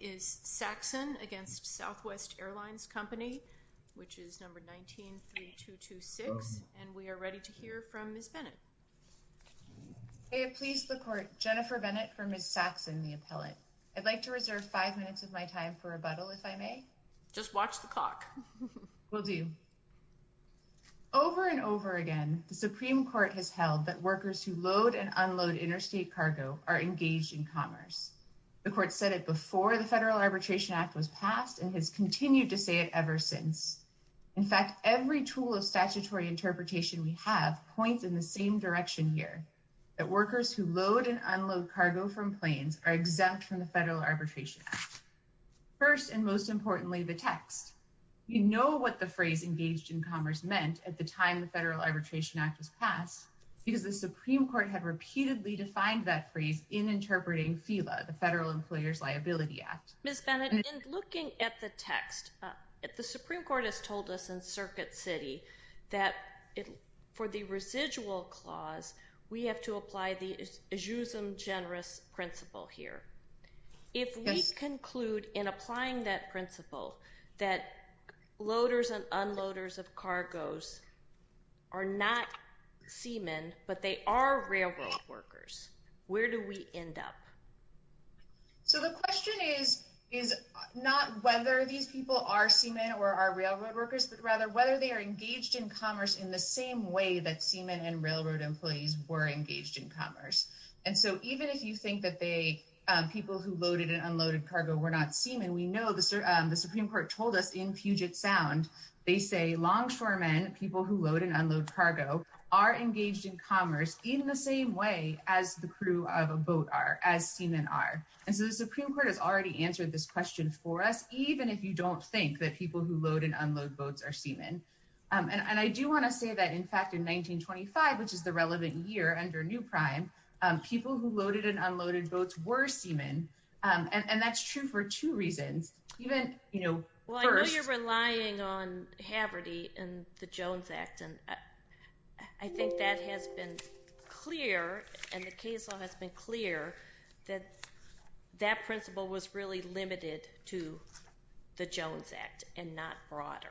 is Saxon against Southwest Airlines Company, which is number 19-3226, and we are ready to hear from Ms. Bennett. May it please the Court, Jennifer Bennett for Ms. Saxon, the appellate. I'd like to reserve five minutes of my time for rebuttal, if I may. Just watch the clock. Will do. Over and over again, the Supreme Court has held that workers who load and unload interstate cargo are engaged in commerce. The Court said it before the Federal Arbitration Act was passed, and has continued to say it ever since. In fact, every tool of statutory interpretation we have points in the same direction here, that workers who load and unload cargo from planes are exempt from the Federal Arbitration Act. First, and most importantly, the text. You know what the phrase engaged in commerce meant at the time the Federal Arbitration Act was passed, because the in interpreting FILA, the Federal Employer's Liability Act. Ms. Bennett, in looking at the text, the Supreme Court has told us in Circuit City that for the residual clause, we have to apply the ejusem generis principle here. If we conclude in applying that principle that loaders of cargo are not seamen, but they are railroad workers, where do we end up? So the question is not whether these people are seamen or are railroad workers, but rather whether they are engaged in commerce in the same way that seamen and railroad employees were engaged in commerce. And so even if you think that people who loaded and unloaded cargo were not seamen, we know the Supreme Court told us in Puget Sound, they say longshoremen, people who load and unload cargo, are engaged in commerce in the same way as the crew of a boat are, as seamen are. And so the Supreme Court has already answered this question for us, even if you don't think that people who load and unload boats are seamen. And I do want to say that in fact in 1925, which is the relevant year under new prime, people who loaded and unloaded boats were seamen. And that's true for two reasons. Even, you know, first... Well, I know you're relying on Haverty and the Jones Act and I think that has been clear and the case law has been clear that that principle was really limited to the Jones Act and not broader.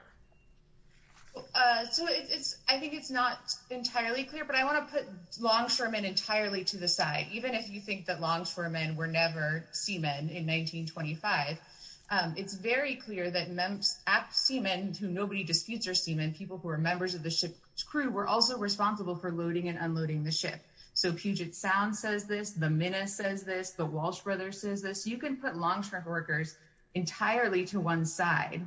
So it's, I think it's not entirely clear, but I want to put longshoremen entirely to the side. Even if you think that longshoremen were never seamen in 1925, it's very clear that seamen, who nobody disputes are seamen, people who are members of the ship's crew, were also responsible for loading and unloading the ship. So Puget Sound says this, the Minna says this, the Walsh Brothers says this. You can put longshoremen workers entirely to one side.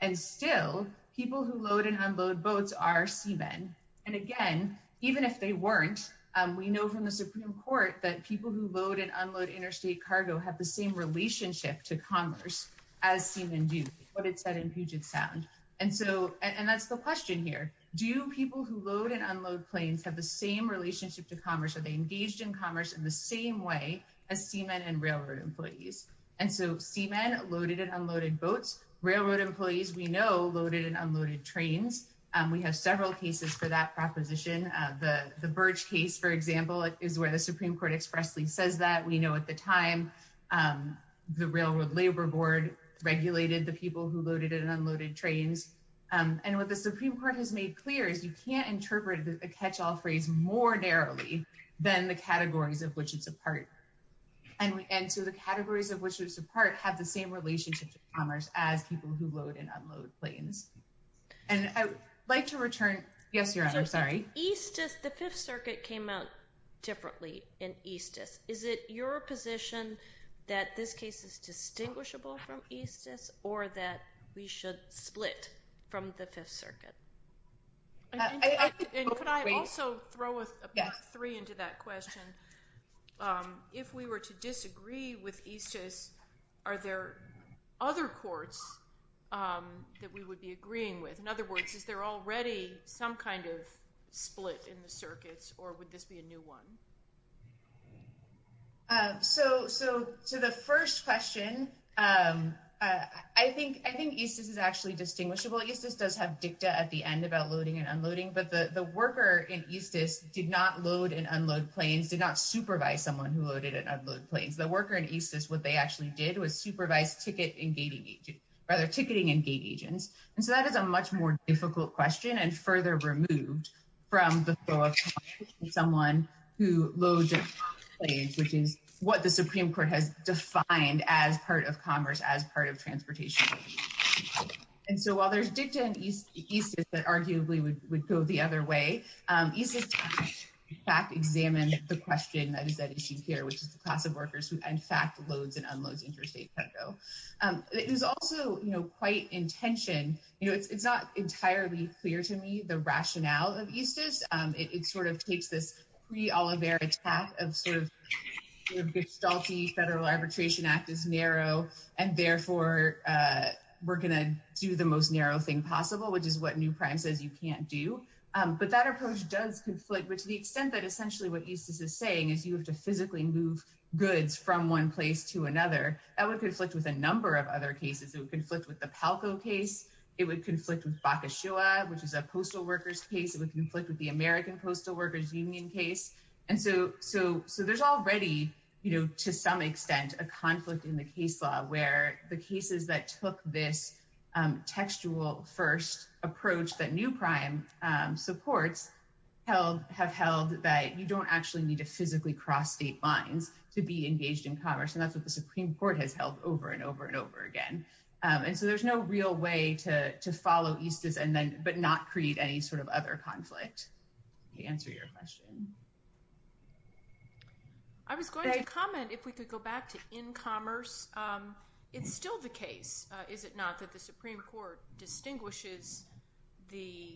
And still, people who load and unload boats are seamen. And again, even if they weren't, we know from the Supreme Court that people who load and unload interstate cargo have the same relationship to commerce as seamen do, what it said in Puget Sound. And so, and that's the question here. Do people who load and unload planes have the same relationship to commerce? Are they engaged in commerce in the same way as seamen and railroad employees? And so seamen loaded and unloaded boats railroad employees we know loaded and unloaded trains. We have several cases for that proposition. The Birch case, for example, is where the Supreme Court expressly says that. We know at the time the Railroad Labor Board regulated the people who loaded and unloaded trains. And what the Supreme Court has made clear is you can't interpret the catch-all phrase more narrowly than the categories of which it's a part. And so the categories of which it's a part have the same relationship to commerce as people who load and unload planes. And I'd like to return. Yes, Your Honor, sorry. Eastus, the Fifth Circuit came out differently in Eastus. Is it your position that this case is distinguishable from Eastus or that we should split from the Fifth Circuit? And could I also throw a plus three into that question? If we were to disagree with Eastus, are there other courts that we would be agreeing with? In other words, is there already some kind of split in the circuits or would this be a new one? So to the first question, I think Eastus is actually distinguishable. Eastus does have dicta at the end about loading and unloading, but the worker in Eastus did not load and unload planes, did not supervise someone who loaded and unloaded planes. The worker in Eastus, what they actually did was supervise ticketing and gate agents. And so that is a much more difficult question and further removed from the flow of someone who loads and unloads planes, which is what the Supreme Court has defined as part of commerce, as part of transportation. And so while there's dicta in Eastus that arguably would go the other way, Eastus in fact examines the question that is at issue here, which is the class of workers who in fact loads and unloads interstate cargo. There's also, you know, quite intention, you know, it's not entirely clear to me the rationale of Eastus. It sort of takes this pre-Oliver attack of sort of gestalt-y Federal Arbitration Act is narrow, and therefore we're going to do the most narrow thing possible, which is what New Prime says you can't do. But that approach does conflict, but to the extent that essentially what Eastus is saying is you have to physically move goods from one place to another, that would conflict with a number of other cases. It would conflict with the Palco case. It would conflict with Bakashoa, which is a postal workers case. It would conflict with the American Postal Workers Union case. And so there's already, you know, some extent a conflict in the case law where the cases that took this textual first approach that New Prime supports have held that you don't actually need to physically cross state lines to be engaged in commerce. And that's what the Supreme Court has held over and over and over again. And so there's no real way to follow Eastus, but not create any sort of other conflict. To answer your question. I was going to comment if we could go back to in commerce. It's still the case, is it not, that the Supreme Court distinguishes the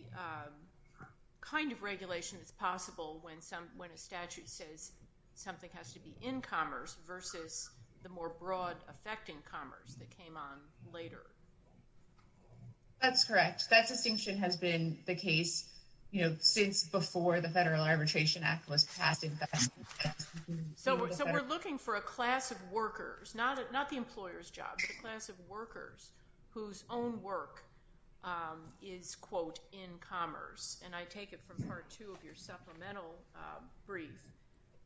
kind of regulation that's possible when a statute says something has to be in commerce versus the more broad effect in commerce that came on later? That's correct. That distinction has been the case, you know, since before the Federal Arbitration Act was passed in fact. So we're looking for a class of workers, not the employer's job, but a class of workers whose own work is, quote, in commerce. And I take it from part two of your supplemental brief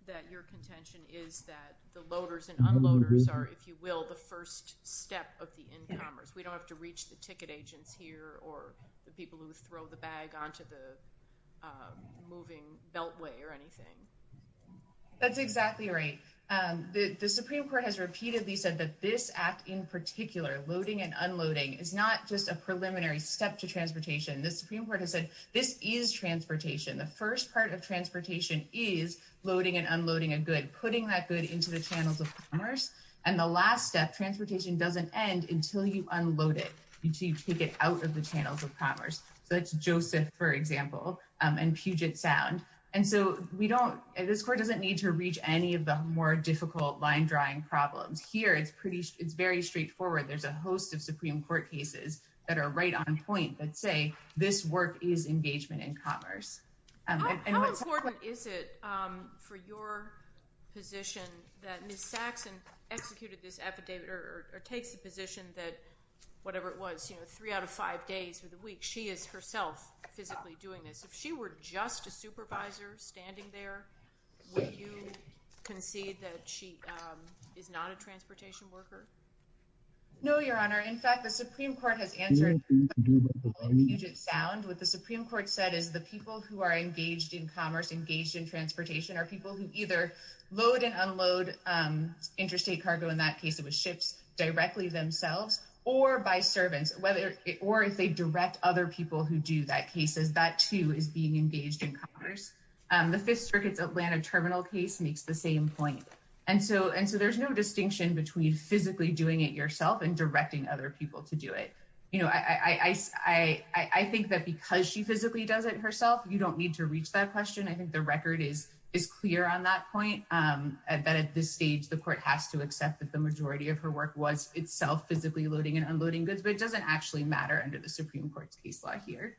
that your contention is that the loaders and unloaders are, if you will, the first step of the in commerce. We don't have to reach the ticket agents here or the people who throw the bag onto the moving beltway or anything. That's exactly right. The Supreme Court has repeatedly said that this act in particular, loading and unloading, is not just a preliminary step to transportation. The Supreme Court has said this is transportation. The first part of transportation is loading and unloading a good, putting that good into the channels of commerce. And the last step, transportation doesn't end until you unload it, until you take it out of the channels of commerce. So that's Joseph, for example, and Puget Sound. And so we don't, this court doesn't need to reach any of the more difficult line drawing problems. Here it's pretty, it's very straightforward. There's a host of Supreme Court cases that are right on point that say this work is engagement in commerce. How important is it for your position that Ms. Saxon executed this affidavit or takes the position that, whatever it was, you know, three out of five days for the week, she is herself physically doing this. If she were just a supervisor standing there, would you concede that she is not a transportation worker? No, Your Honor. In fact, the Supreme Court has answered Puget Sound. What the Supreme Court said is the people who are engaged in commerce, engaged in transportation, are people who either load and unload interstate cargo, in that case it was ships, directly themselves or by servants, whether, or if they direct other people who do that cases, that too is being engaged in commerce. The Fifth Circuit's Atlanta terminal case makes the same point. And so there's no distinction between physically doing it yourself and directing other people to do it. You know, I think that because she physically does it herself, you don't need to reach that question. I think the record is clear on that point, that at this stage, the court has to accept that the majority of her work was itself physically loading and unloading goods, but it doesn't actually matter under the Supreme Court's case law here.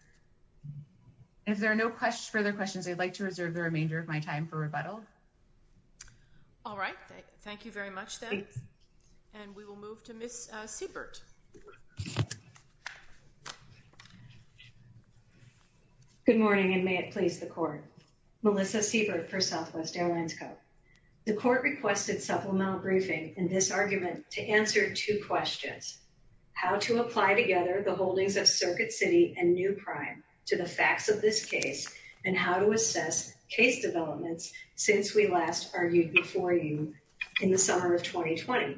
If there are no further questions, I'd like to reserve the remainder of my time for rebuttal. All right. Thank you very much, then. And we will move to Ms. Siebert. Good morning, and may it please the court. Melissa Siebert for Southwest Airlines Co. The court requested supplemental briefing in this argument to answer two questions. How to apply together the holdings of Circuit City and New Prime to the facts of this case and how to assess case developments since we last argued before you in the summer of 2020.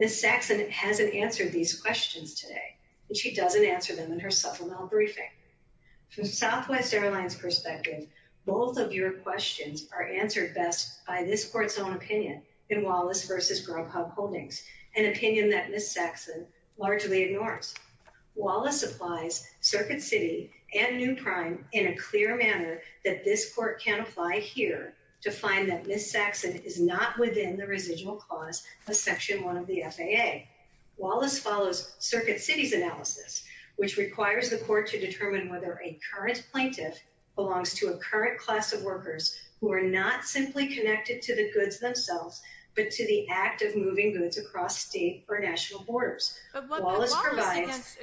Ms. Saxon hasn't answered these questions today, and she doesn't answer them in her supplemental briefing. From Southwest Airlines' perspective, both of your questions are answered best by this court's own opinion in Wallace v. Grubhub holdings, an opinion that Ms. Saxon largely ignores. Wallace applies Circuit City and New Prime in a clear manner that this court can to find that Ms. Saxon is not within the residual clause of Section 1 of the FAA. Wallace follows Circuit City's analysis, which requires the court to determine whether a current plaintiff belongs to a current class of workers who are not simply connected to the goods themselves, but to the act of moving goods across state or national borders. But Wallace provides...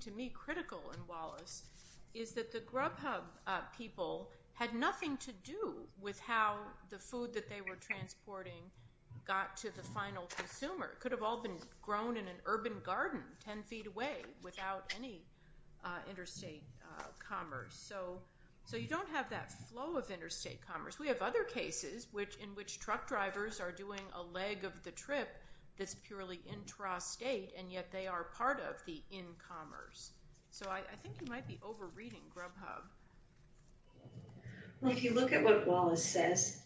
to me critical in Wallace is that the Grubhub people had nothing to do with how the food that they were transporting got to the final consumer. It could have all been grown in an urban garden 10 feet away without any interstate commerce. So you don't have that flow of interstate commerce. We have other cases in which truck drivers are doing a leg of the trip that's purely intrastate, and yet they are part of the in-commerce. So I think you might be over-reading Grubhub. Well, if you look at what Wallace says,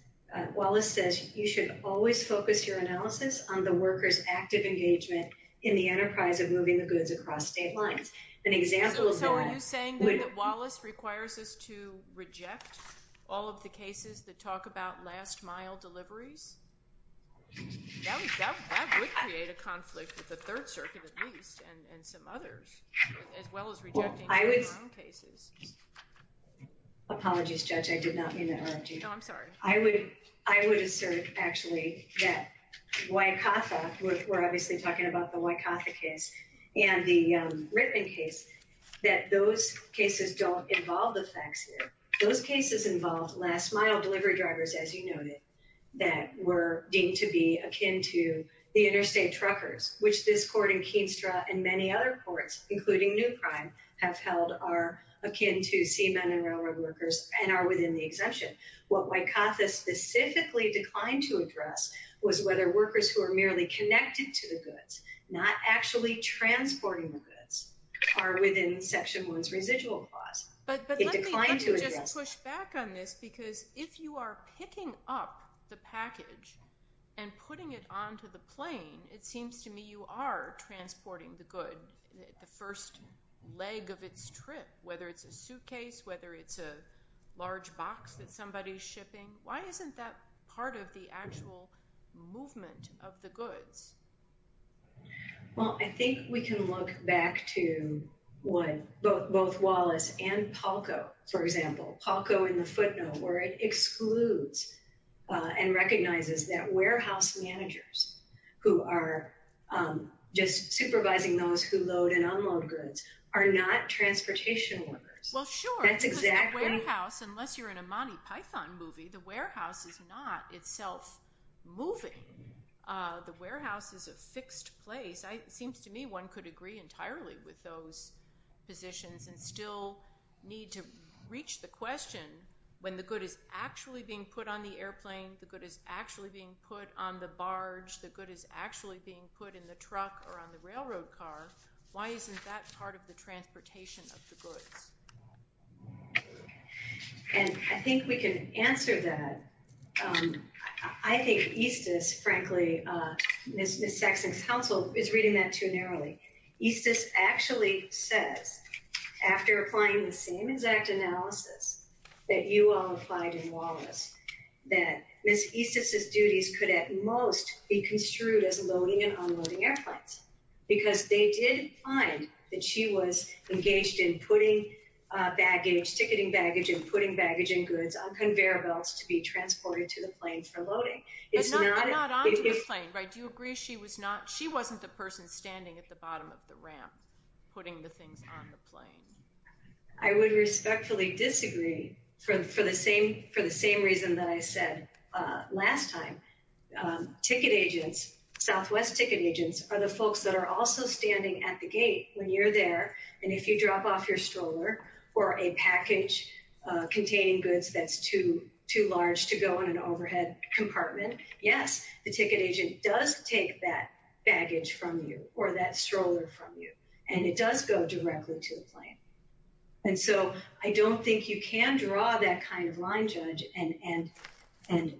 Wallace says you should always focus your analysis on the workers' active engagement in the enterprise of moving the goods across state lines. An example of that... So are you saying that Wallace requires us to reject all of the cases that talk about last deliveries? That would create a conflict with the Third Circuit, at least, and some others, as well as rejecting their own cases. Apologies, Judge. I did not mean to interrupt you. No, I'm sorry. I would assert, actually, that Wycotha, we're obviously talking about the Wycotha case and the Rittman case, that those cases don't involve the facts here. Those cases involve last-mile delivery drivers, as you noted, that were deemed to be akin to the interstate truckers, which this court in Keenstra and many other courts, including New Crime, have held are akin to seamen and railroad workers and are within the exemption. What Wycotha specifically declined to address was whether workers who are merely connected to the goods, not actually transporting the goods, are within Section 1's residual clause. But let me just push back on this, because if you are picking up the package and putting it onto the plane, it seems to me you are transporting the good the first leg of its trip, whether it's a suitcase, whether it's a large box that somebody's shipping. Why isn't that part of the actual movement of the goods? Well, I think we can look back to what both Wallace and Palco, for example, Palco in the footnote, where it excludes and recognizes that warehouse managers who are just supervising those who load and unload goods are not transportation workers. Well, sure. That's exactly. That warehouse, unless you're in a Monty Python movie, the warehouse is not itself moving. The warehouse is a fixed place. It seems to me one could agree entirely with those positions and still need to reach the question when the good is actually being put on the airplane, the good is actually being put on the barge, the good is actually being put in the truck or on the railroad car, why isn't that part of the I think we can answer that. I think Eastis, frankly, Ms. Saxon's counsel is reading that too narrowly. Eastis actually says, after applying the same exact analysis that you all applied in Wallace, that Ms. Eastis's duties could at most be construed as loading and unloading airplanes because they did find that she was engaged in putting baggage, ticketing baggage, and putting baggage and goods on conveyor belts to be transported to the plane for loading. But not onto the plane, right? Do you agree she wasn't the person standing at the bottom of the ramp putting the things on the plane? I would respectfully disagree for the same reason that I said last time. Ticket agents, Southwest ticket agents, are the folks that are also standing at the gate when you're there, and if you drop off your stroller or a package containing goods that's too large to go in an overhead compartment, yes, the ticket agent does take that baggage from you or that stroller from you, and it does go directly to the plane. And so I don't think you can draw that kind of line, Judge, and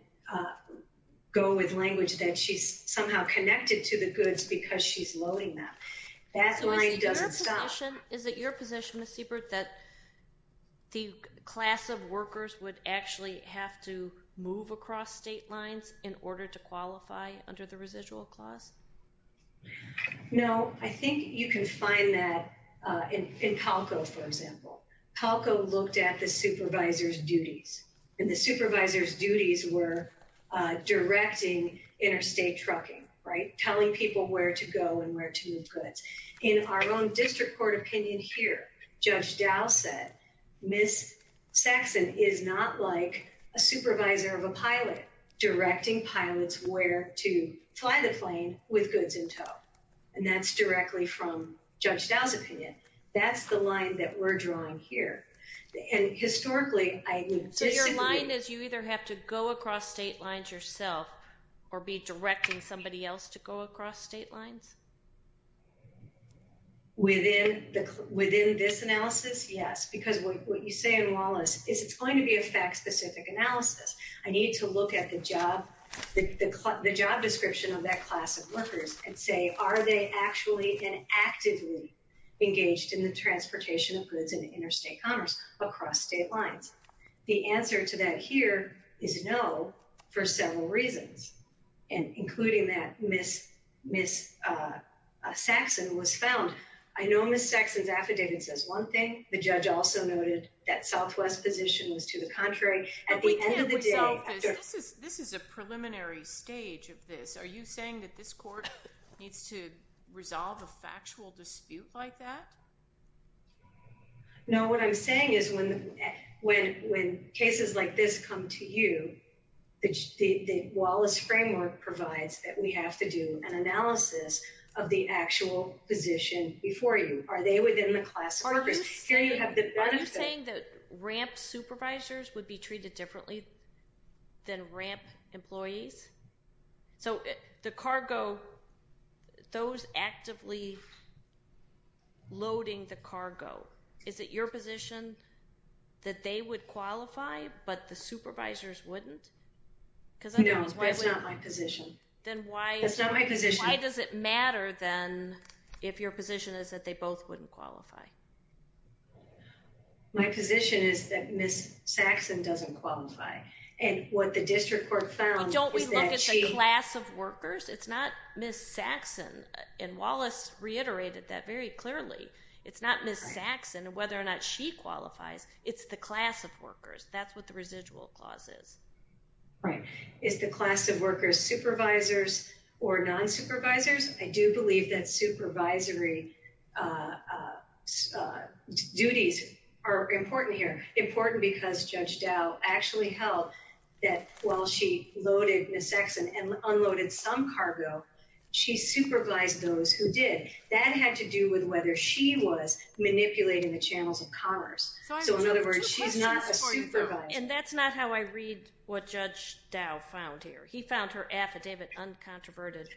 go with language that she's somehow connected to the goods because she's loading them. That line doesn't stop. Is it your position, Ms. Siebert, that the class of workers would actually have to move across state lines in order to qualify under the residual clause? No, I think you can find that in Palco, for example. Palco looked at the supervisors' duties, and the supervisors' duties were directing interstate trucking, right, telling people where to go and where to move goods. In our own district court opinion here, Judge Dow said, Ms. Saxon is not like a supervisor of a pilot directing pilots where to fly the plane with goods in tow, and that's directly from Judge Dow's opinion. That's the line that we're drawing here, and historically... So your line is you either have to go across state lines yourself or be directing somebody else to go across state lines? Within this analysis, yes, because what you say in Wallace is it's going to be a fact-specific analysis. I need to look at the job description of that class of workers and say, are they actually and actively engaged in the transportation of goods in interstate commerce across state lines? The answer to that here is no for several reasons, including that Ms. Saxon was found. I know Ms. Saxon's affidavit says one thing. The judge also noted that Southwest's position was to the contrary. At the end of the day... But we can't resolve this. This is a preliminary stage of this. Are you saying that this court needs to resolve a factual dispute like that? No, what I'm saying is when cases like this come to you, the Wallace framework provides that we have to do an analysis of the actual position before you. Are they within the class of workers? Are you saying that ramp supervisors would be treated differently than ramp employees? So the cargo, those actively loading the cargo, is it your position that they would qualify but the supervisors wouldn't? No, that's not my position. That's not my position. Then why does it matter then if your position is that they both wouldn't qualify? My position is that Ms. Saxon doesn't qualify. And what the district court found is that she... Don't we look at the class of workers? It's not Ms. Saxon. And Wallace reiterated that very clearly. It's not Ms. Saxon and whether or not she qualifies. It's the class of workers. That's what the residual clause is. Right. Is the class of workers supervisors or non-supervisors? I do believe that supervisory duties are important here. Important because Judge Dow actually held that while she loaded Ms. Saxon and unloaded some cargo, she supervised those who did. That had to do with whether she was manipulating the channels of commerce. So in other words, she's not a supervisor. And that's not how I read what Judge Dow found here. He found her affidavit uncontroverted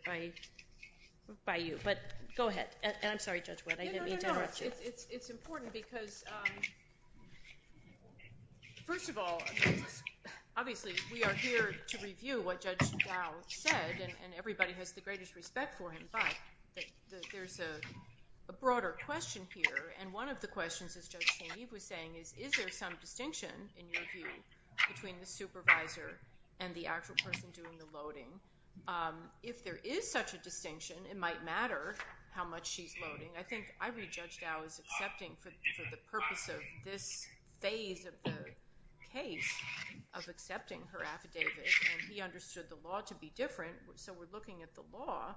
by you. But go ahead. I'm sorry, Judge White. I didn't mean to interrupt you. No, no, no. It's important because first of all, obviously we are here to review what Judge Dow said and everybody has the greatest respect for him. But there's a broader question here. And one of the questions as Judge St. Eve was saying is, is there some distinction in your view between the supervisor and the actual person doing the loading? If there is such a distinction, it might matter how much she's loading. I think I read Judge Dow as accepting for the purpose of this phase of the case of accepting her affidavit. And he understood the law to be different. So we're looking at the law.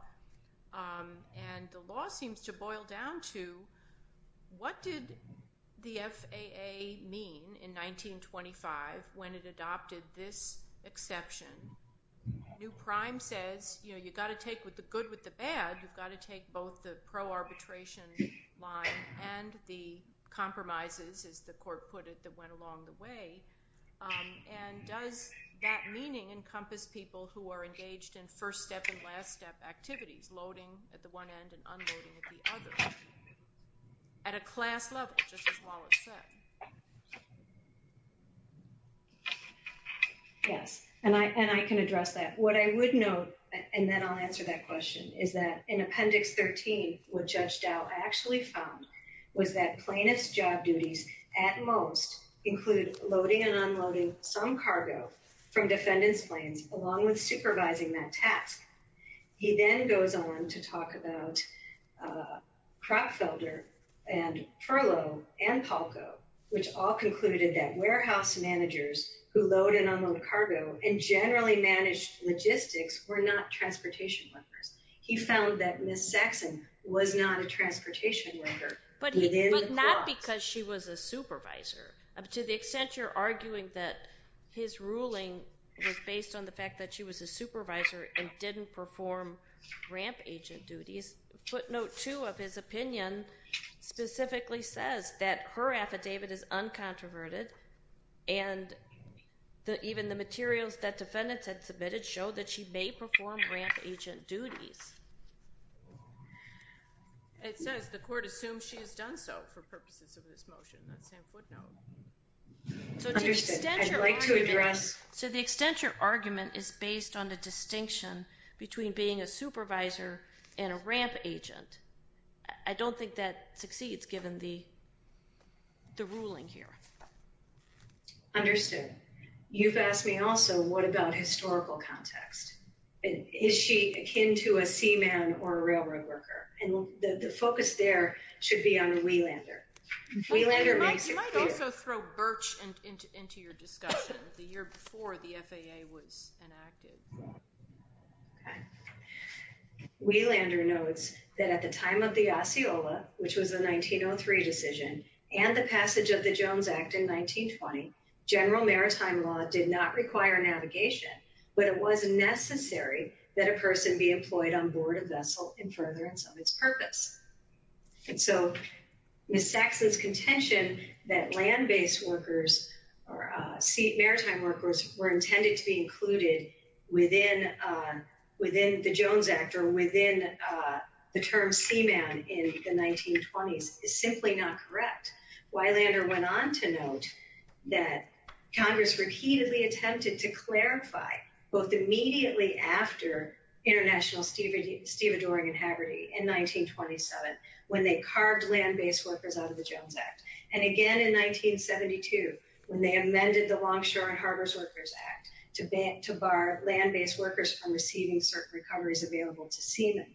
And the law seems to boil down to what did the FAA mean in 1925 when it adopted this conception? New Prime says, you've got to take the good with the bad. You've got to take both the pro-arbitration line and the compromises, as the court put it, that went along the way. And does that meaning encompass people who are engaged in first step and last step activities, loading at the one end and unloading at the other at a class level, just as Wallace said? Yes. And I can address that. What I would note, and then I'll answer that question, is that in Appendix 13, what Judge Dow actually found was that plaintiff's job duties at most include loading and unloading some cargo from defendants' planes along with supervising that which all concluded that warehouse managers who load and unload cargo and generally manage logistics were not transportation workers. He found that Ms. Saxon was not a transportation worker. But not because she was a supervisor. To the extent you're arguing that his ruling was based on the fact that she was a supervisor and didn't perform ramp agent duties, footnote two of his opinion specifically says that her affidavit is uncontroverted and even the materials that defendants had submitted showed that she may perform ramp agent duties. It says the court assumes she has done so for purposes of this motion. That's a footnote. So to the extent your argument is based on the distinction between being a supervisor and a ramp agent, I don't think that succeeds given the the ruling here. Understood. You've asked me also what about historical context. Is she akin to a seaman or a railroad worker? And the focus there should be on Wielander. You might also throw Birch into your discussion the year before the FAA was enacted. Okay. Wielander notes that at the time of the Osceola, which was a 1903 decision, and the passage of the Jones Act in 1920, general maritime law did not require navigation, but it was necessary that a person be employed on board a vessel in furtherance of its purpose. And so Ms. Saxon's claim that land-based workers or maritime workers were intended to be included within the Jones Act or within the term seaman in the 1920s is simply not correct. Wielander went on to note that Congress repeatedly attempted to clarify, both immediately after International, Steve carved land-based workers out of the Jones Act, and again in 1972 when they amended the Longshore and Harbors Workers Act to bar land-based workers from receiving certain recoveries available to seaman.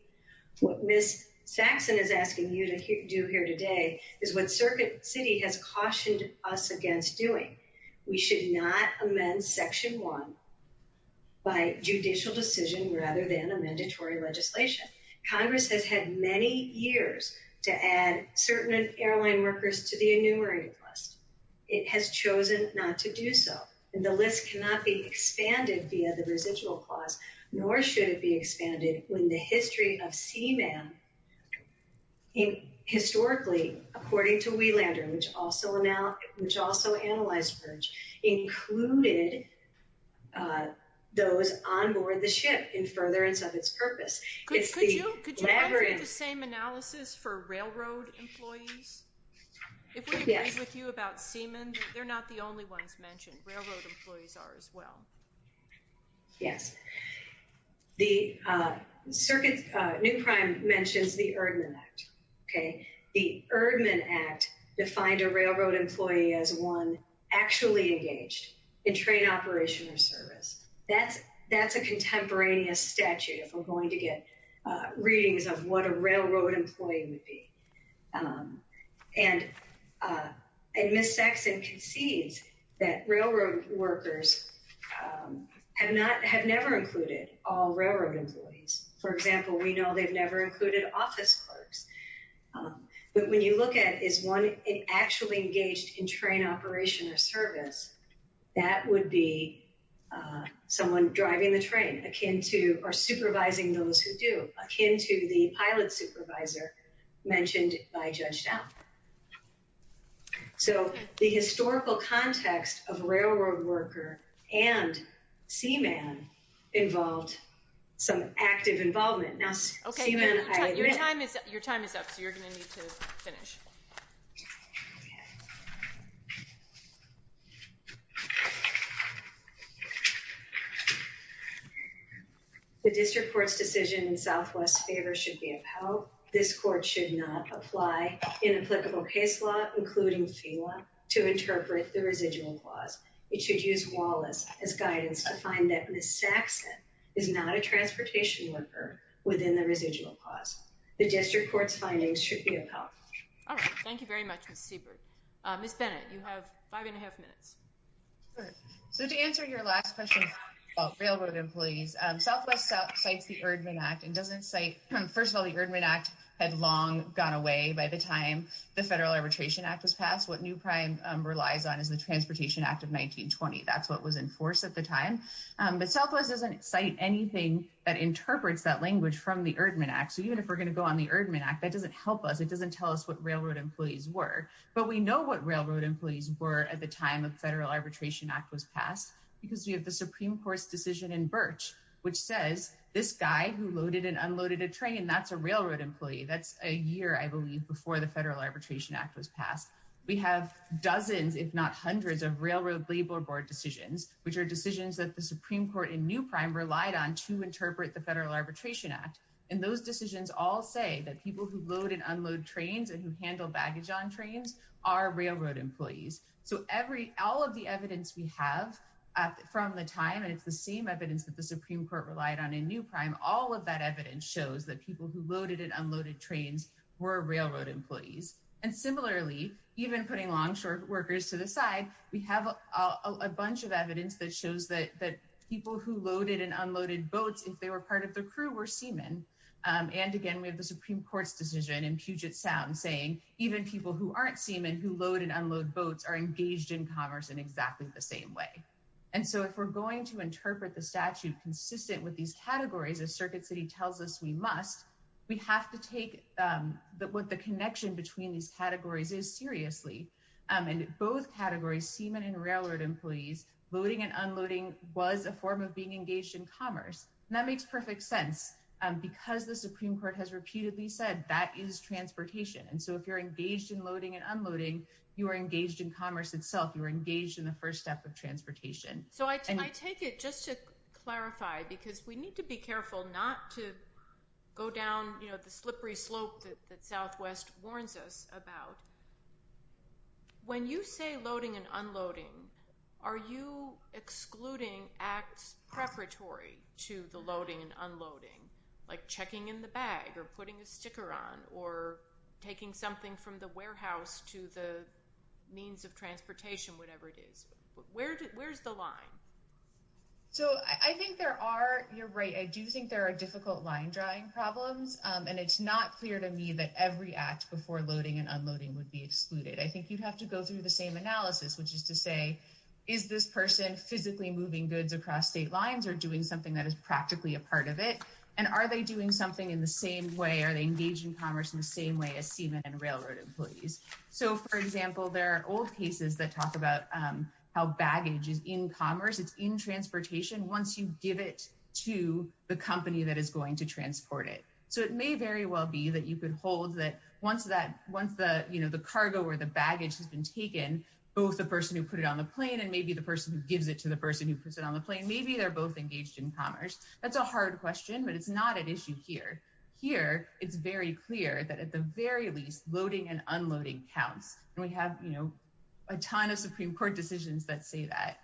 What Ms. Saxon is asking you to do here today is what Circuit City has cautioned us against doing. We should not amend Section 1 by judicial decision rather than a mandatory legislation. Congress has had many years to add certain airline workers to the enumerated list. It has chosen not to do so, and the list cannot be expanded via the residual clause, nor should it be expanded when the history of seaman historically, according to Wielander, which also analyzed merge, included those on board the ship in furtherance of its purpose. Could you do the same analysis for railroad employees? If we agree with you about seaman, they're not the only ones mentioned. Railroad employees are as well. Yes. The new crime mentions the Erdman Act. The Erdman Act defined a railroad employee as one actually engaged in train operation or service. That's a contemporaneous statute, if we're going to get readings of what a railroad employee would be. And Ms. Saxon concedes that railroad workers have never included all railroad employees. For example, we know they've never included office clerks. But when you look at is one actually engaged in train operation or service, that would be someone driving the train akin to or supervising those who do, akin to the pilot seaman involved, some active involvement. Now, your time is up, so you're going to need to finish. The district court's decision in Southwest's favor should be upheld. This court should not apply inapplicable case law, including FEWA, to interpret the residual clause. It should use Wallace as guidance to find that Ms. Saxon is not a transportation worker within the residual clause. The district court's findings should be upheld. All right. Thank you very much, Ms. Siebert. Ms. Bennett, you have five and a half minutes. So to answer your last question about railroad employees, Southwest cites the Erdman Act and doesn't cite, first of all, the Erdman Act had long gone away by the time the Federal Arbitration Act was passed. What new prime relies on is the Transportation Act of 1920. That's what was in force at the time. But Southwest doesn't cite anything that interprets that language from the Erdman Act. So even if we're going to go on the Erdman Act, that doesn't help us. It doesn't tell us what railroad employees were. But we know what railroad employees were at the time of the Federal Arbitration Act was passed because we have the Supreme Court's decision in Birch, which says this guy who loaded and unloaded a train, that's a railroad employee. That's a year, I believe, before the Federal Arbitration Act was passed. We have dozens, if not hundreds, of Railroad Labor Board decisions, which are decisions that the Supreme Court in new prime relied on to interpret the Federal Arbitration Act. And those decisions all say that people who load and unload trains and who handle baggage on trains are railroad employees. So every all of the evidence we have from the time, and it's the same evidence that the Supreme Court relied on in new prime, all of that evidence shows that people who loaded and unloaded trains were railroad employees. And similarly, even putting longshore workers to the side, we have a bunch of evidence that shows that people who loaded and unloaded boats, if they were part of the crew, were seamen. And again, we have the Supreme Court's decision in Puget Sound saying even people who aren't seamen who load and unload boats are engaged in commerce in exactly the same way. And so if we're going to interpret the statute consistent with these categories, as Circuit City tells us we must, we have to take what the connection between these categories is seriously. And both categories, seamen and railroad employees, loading and unloading was a form of being engaged in commerce. And that makes perfect sense because the Supreme Court has repeatedly said that is transportation. And so if you're engaged in loading and unloading, you are engaged in commerce itself. You're engaged in the first step of transportation. So I take it just to clarify, because we need to be careful not to go down the slippery slope that Southwest warns us about. When you say loading and unloading, are you excluding acts preparatory to the loading and unloading, like checking in the bag, or putting a sticker on, or taking something from the warehouse to the means of transportation, whatever it is? Where's the line? So I think there are, you're right, I do think there are difficult line drawing problems. And it's not clear to me that every act before loading and unloading would be excluded. I think you'd have to go through the same analysis, which is to say, is this person physically moving goods across state lines or doing something that is practically a part of it? And are they doing something in the same way? Are they engaged in commerce in the same way as seamen and railroad employees? So for example, there are old cases that talk about how baggage is in commerce. It's in transportation once you give it to the company that is going to transport it. So it may very well be that you could hold that once the cargo or the baggage has been taken, both the person who put it on the plane and maybe the person who gives it to the person who puts it on the plane, maybe they're both engaged in commerce. That's a hard question, but it's not an issue here. Here, it's very clear that at the very least loading and unloading counts. And we have a ton of Supreme Court decisions that say that.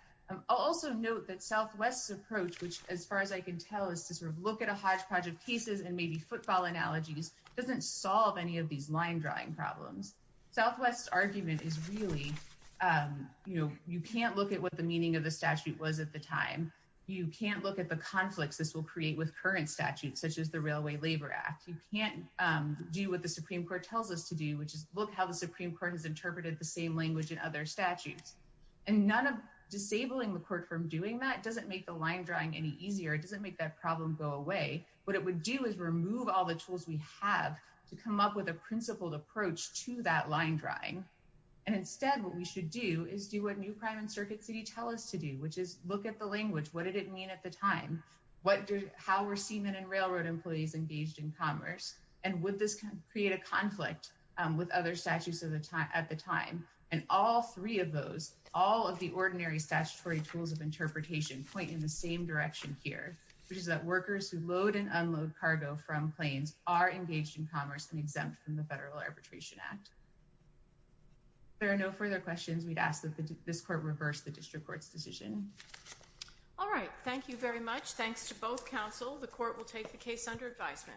I'll also note that Southwest's approach, which as far as I can tell is to sort of look at a hodgepodge of cases and maybe footfall analogies doesn't solve any of these line drawing problems. Southwest's argument is really, you can't look at what the meaning of the statute was at the time. You can't look at the conflicts this will create with current statutes, such as the Railway Labor Act. You can't do what the Supreme Court tells us to do, which is look how the Supreme Court has interpreted the same language in other statutes. And none of disabling the court from doing that doesn't make the line drawing any easier. It doesn't make that problem go away. What it would do is remove all the tools we have to come up with a principled approach to that line drawing. And instead, what we should do is do what New Prime and Circuit City tell us to do, which is look at the language. What did it mean at the time? How were seamen and railroad employees engaged in commerce? And would this create a conflict with other statutes at the time? And all three of those, all of the ordinary statutory tools of interpretation point in the same direction here, which is that workers who load and unload cargo from planes are engaged in commerce and exempt from the Federal Arbitration Act. If there are no further questions, we'd ask that this court reverse the district court's decision. All right. Thank you very much. Thanks to both counsel. The court will take the case under advisement.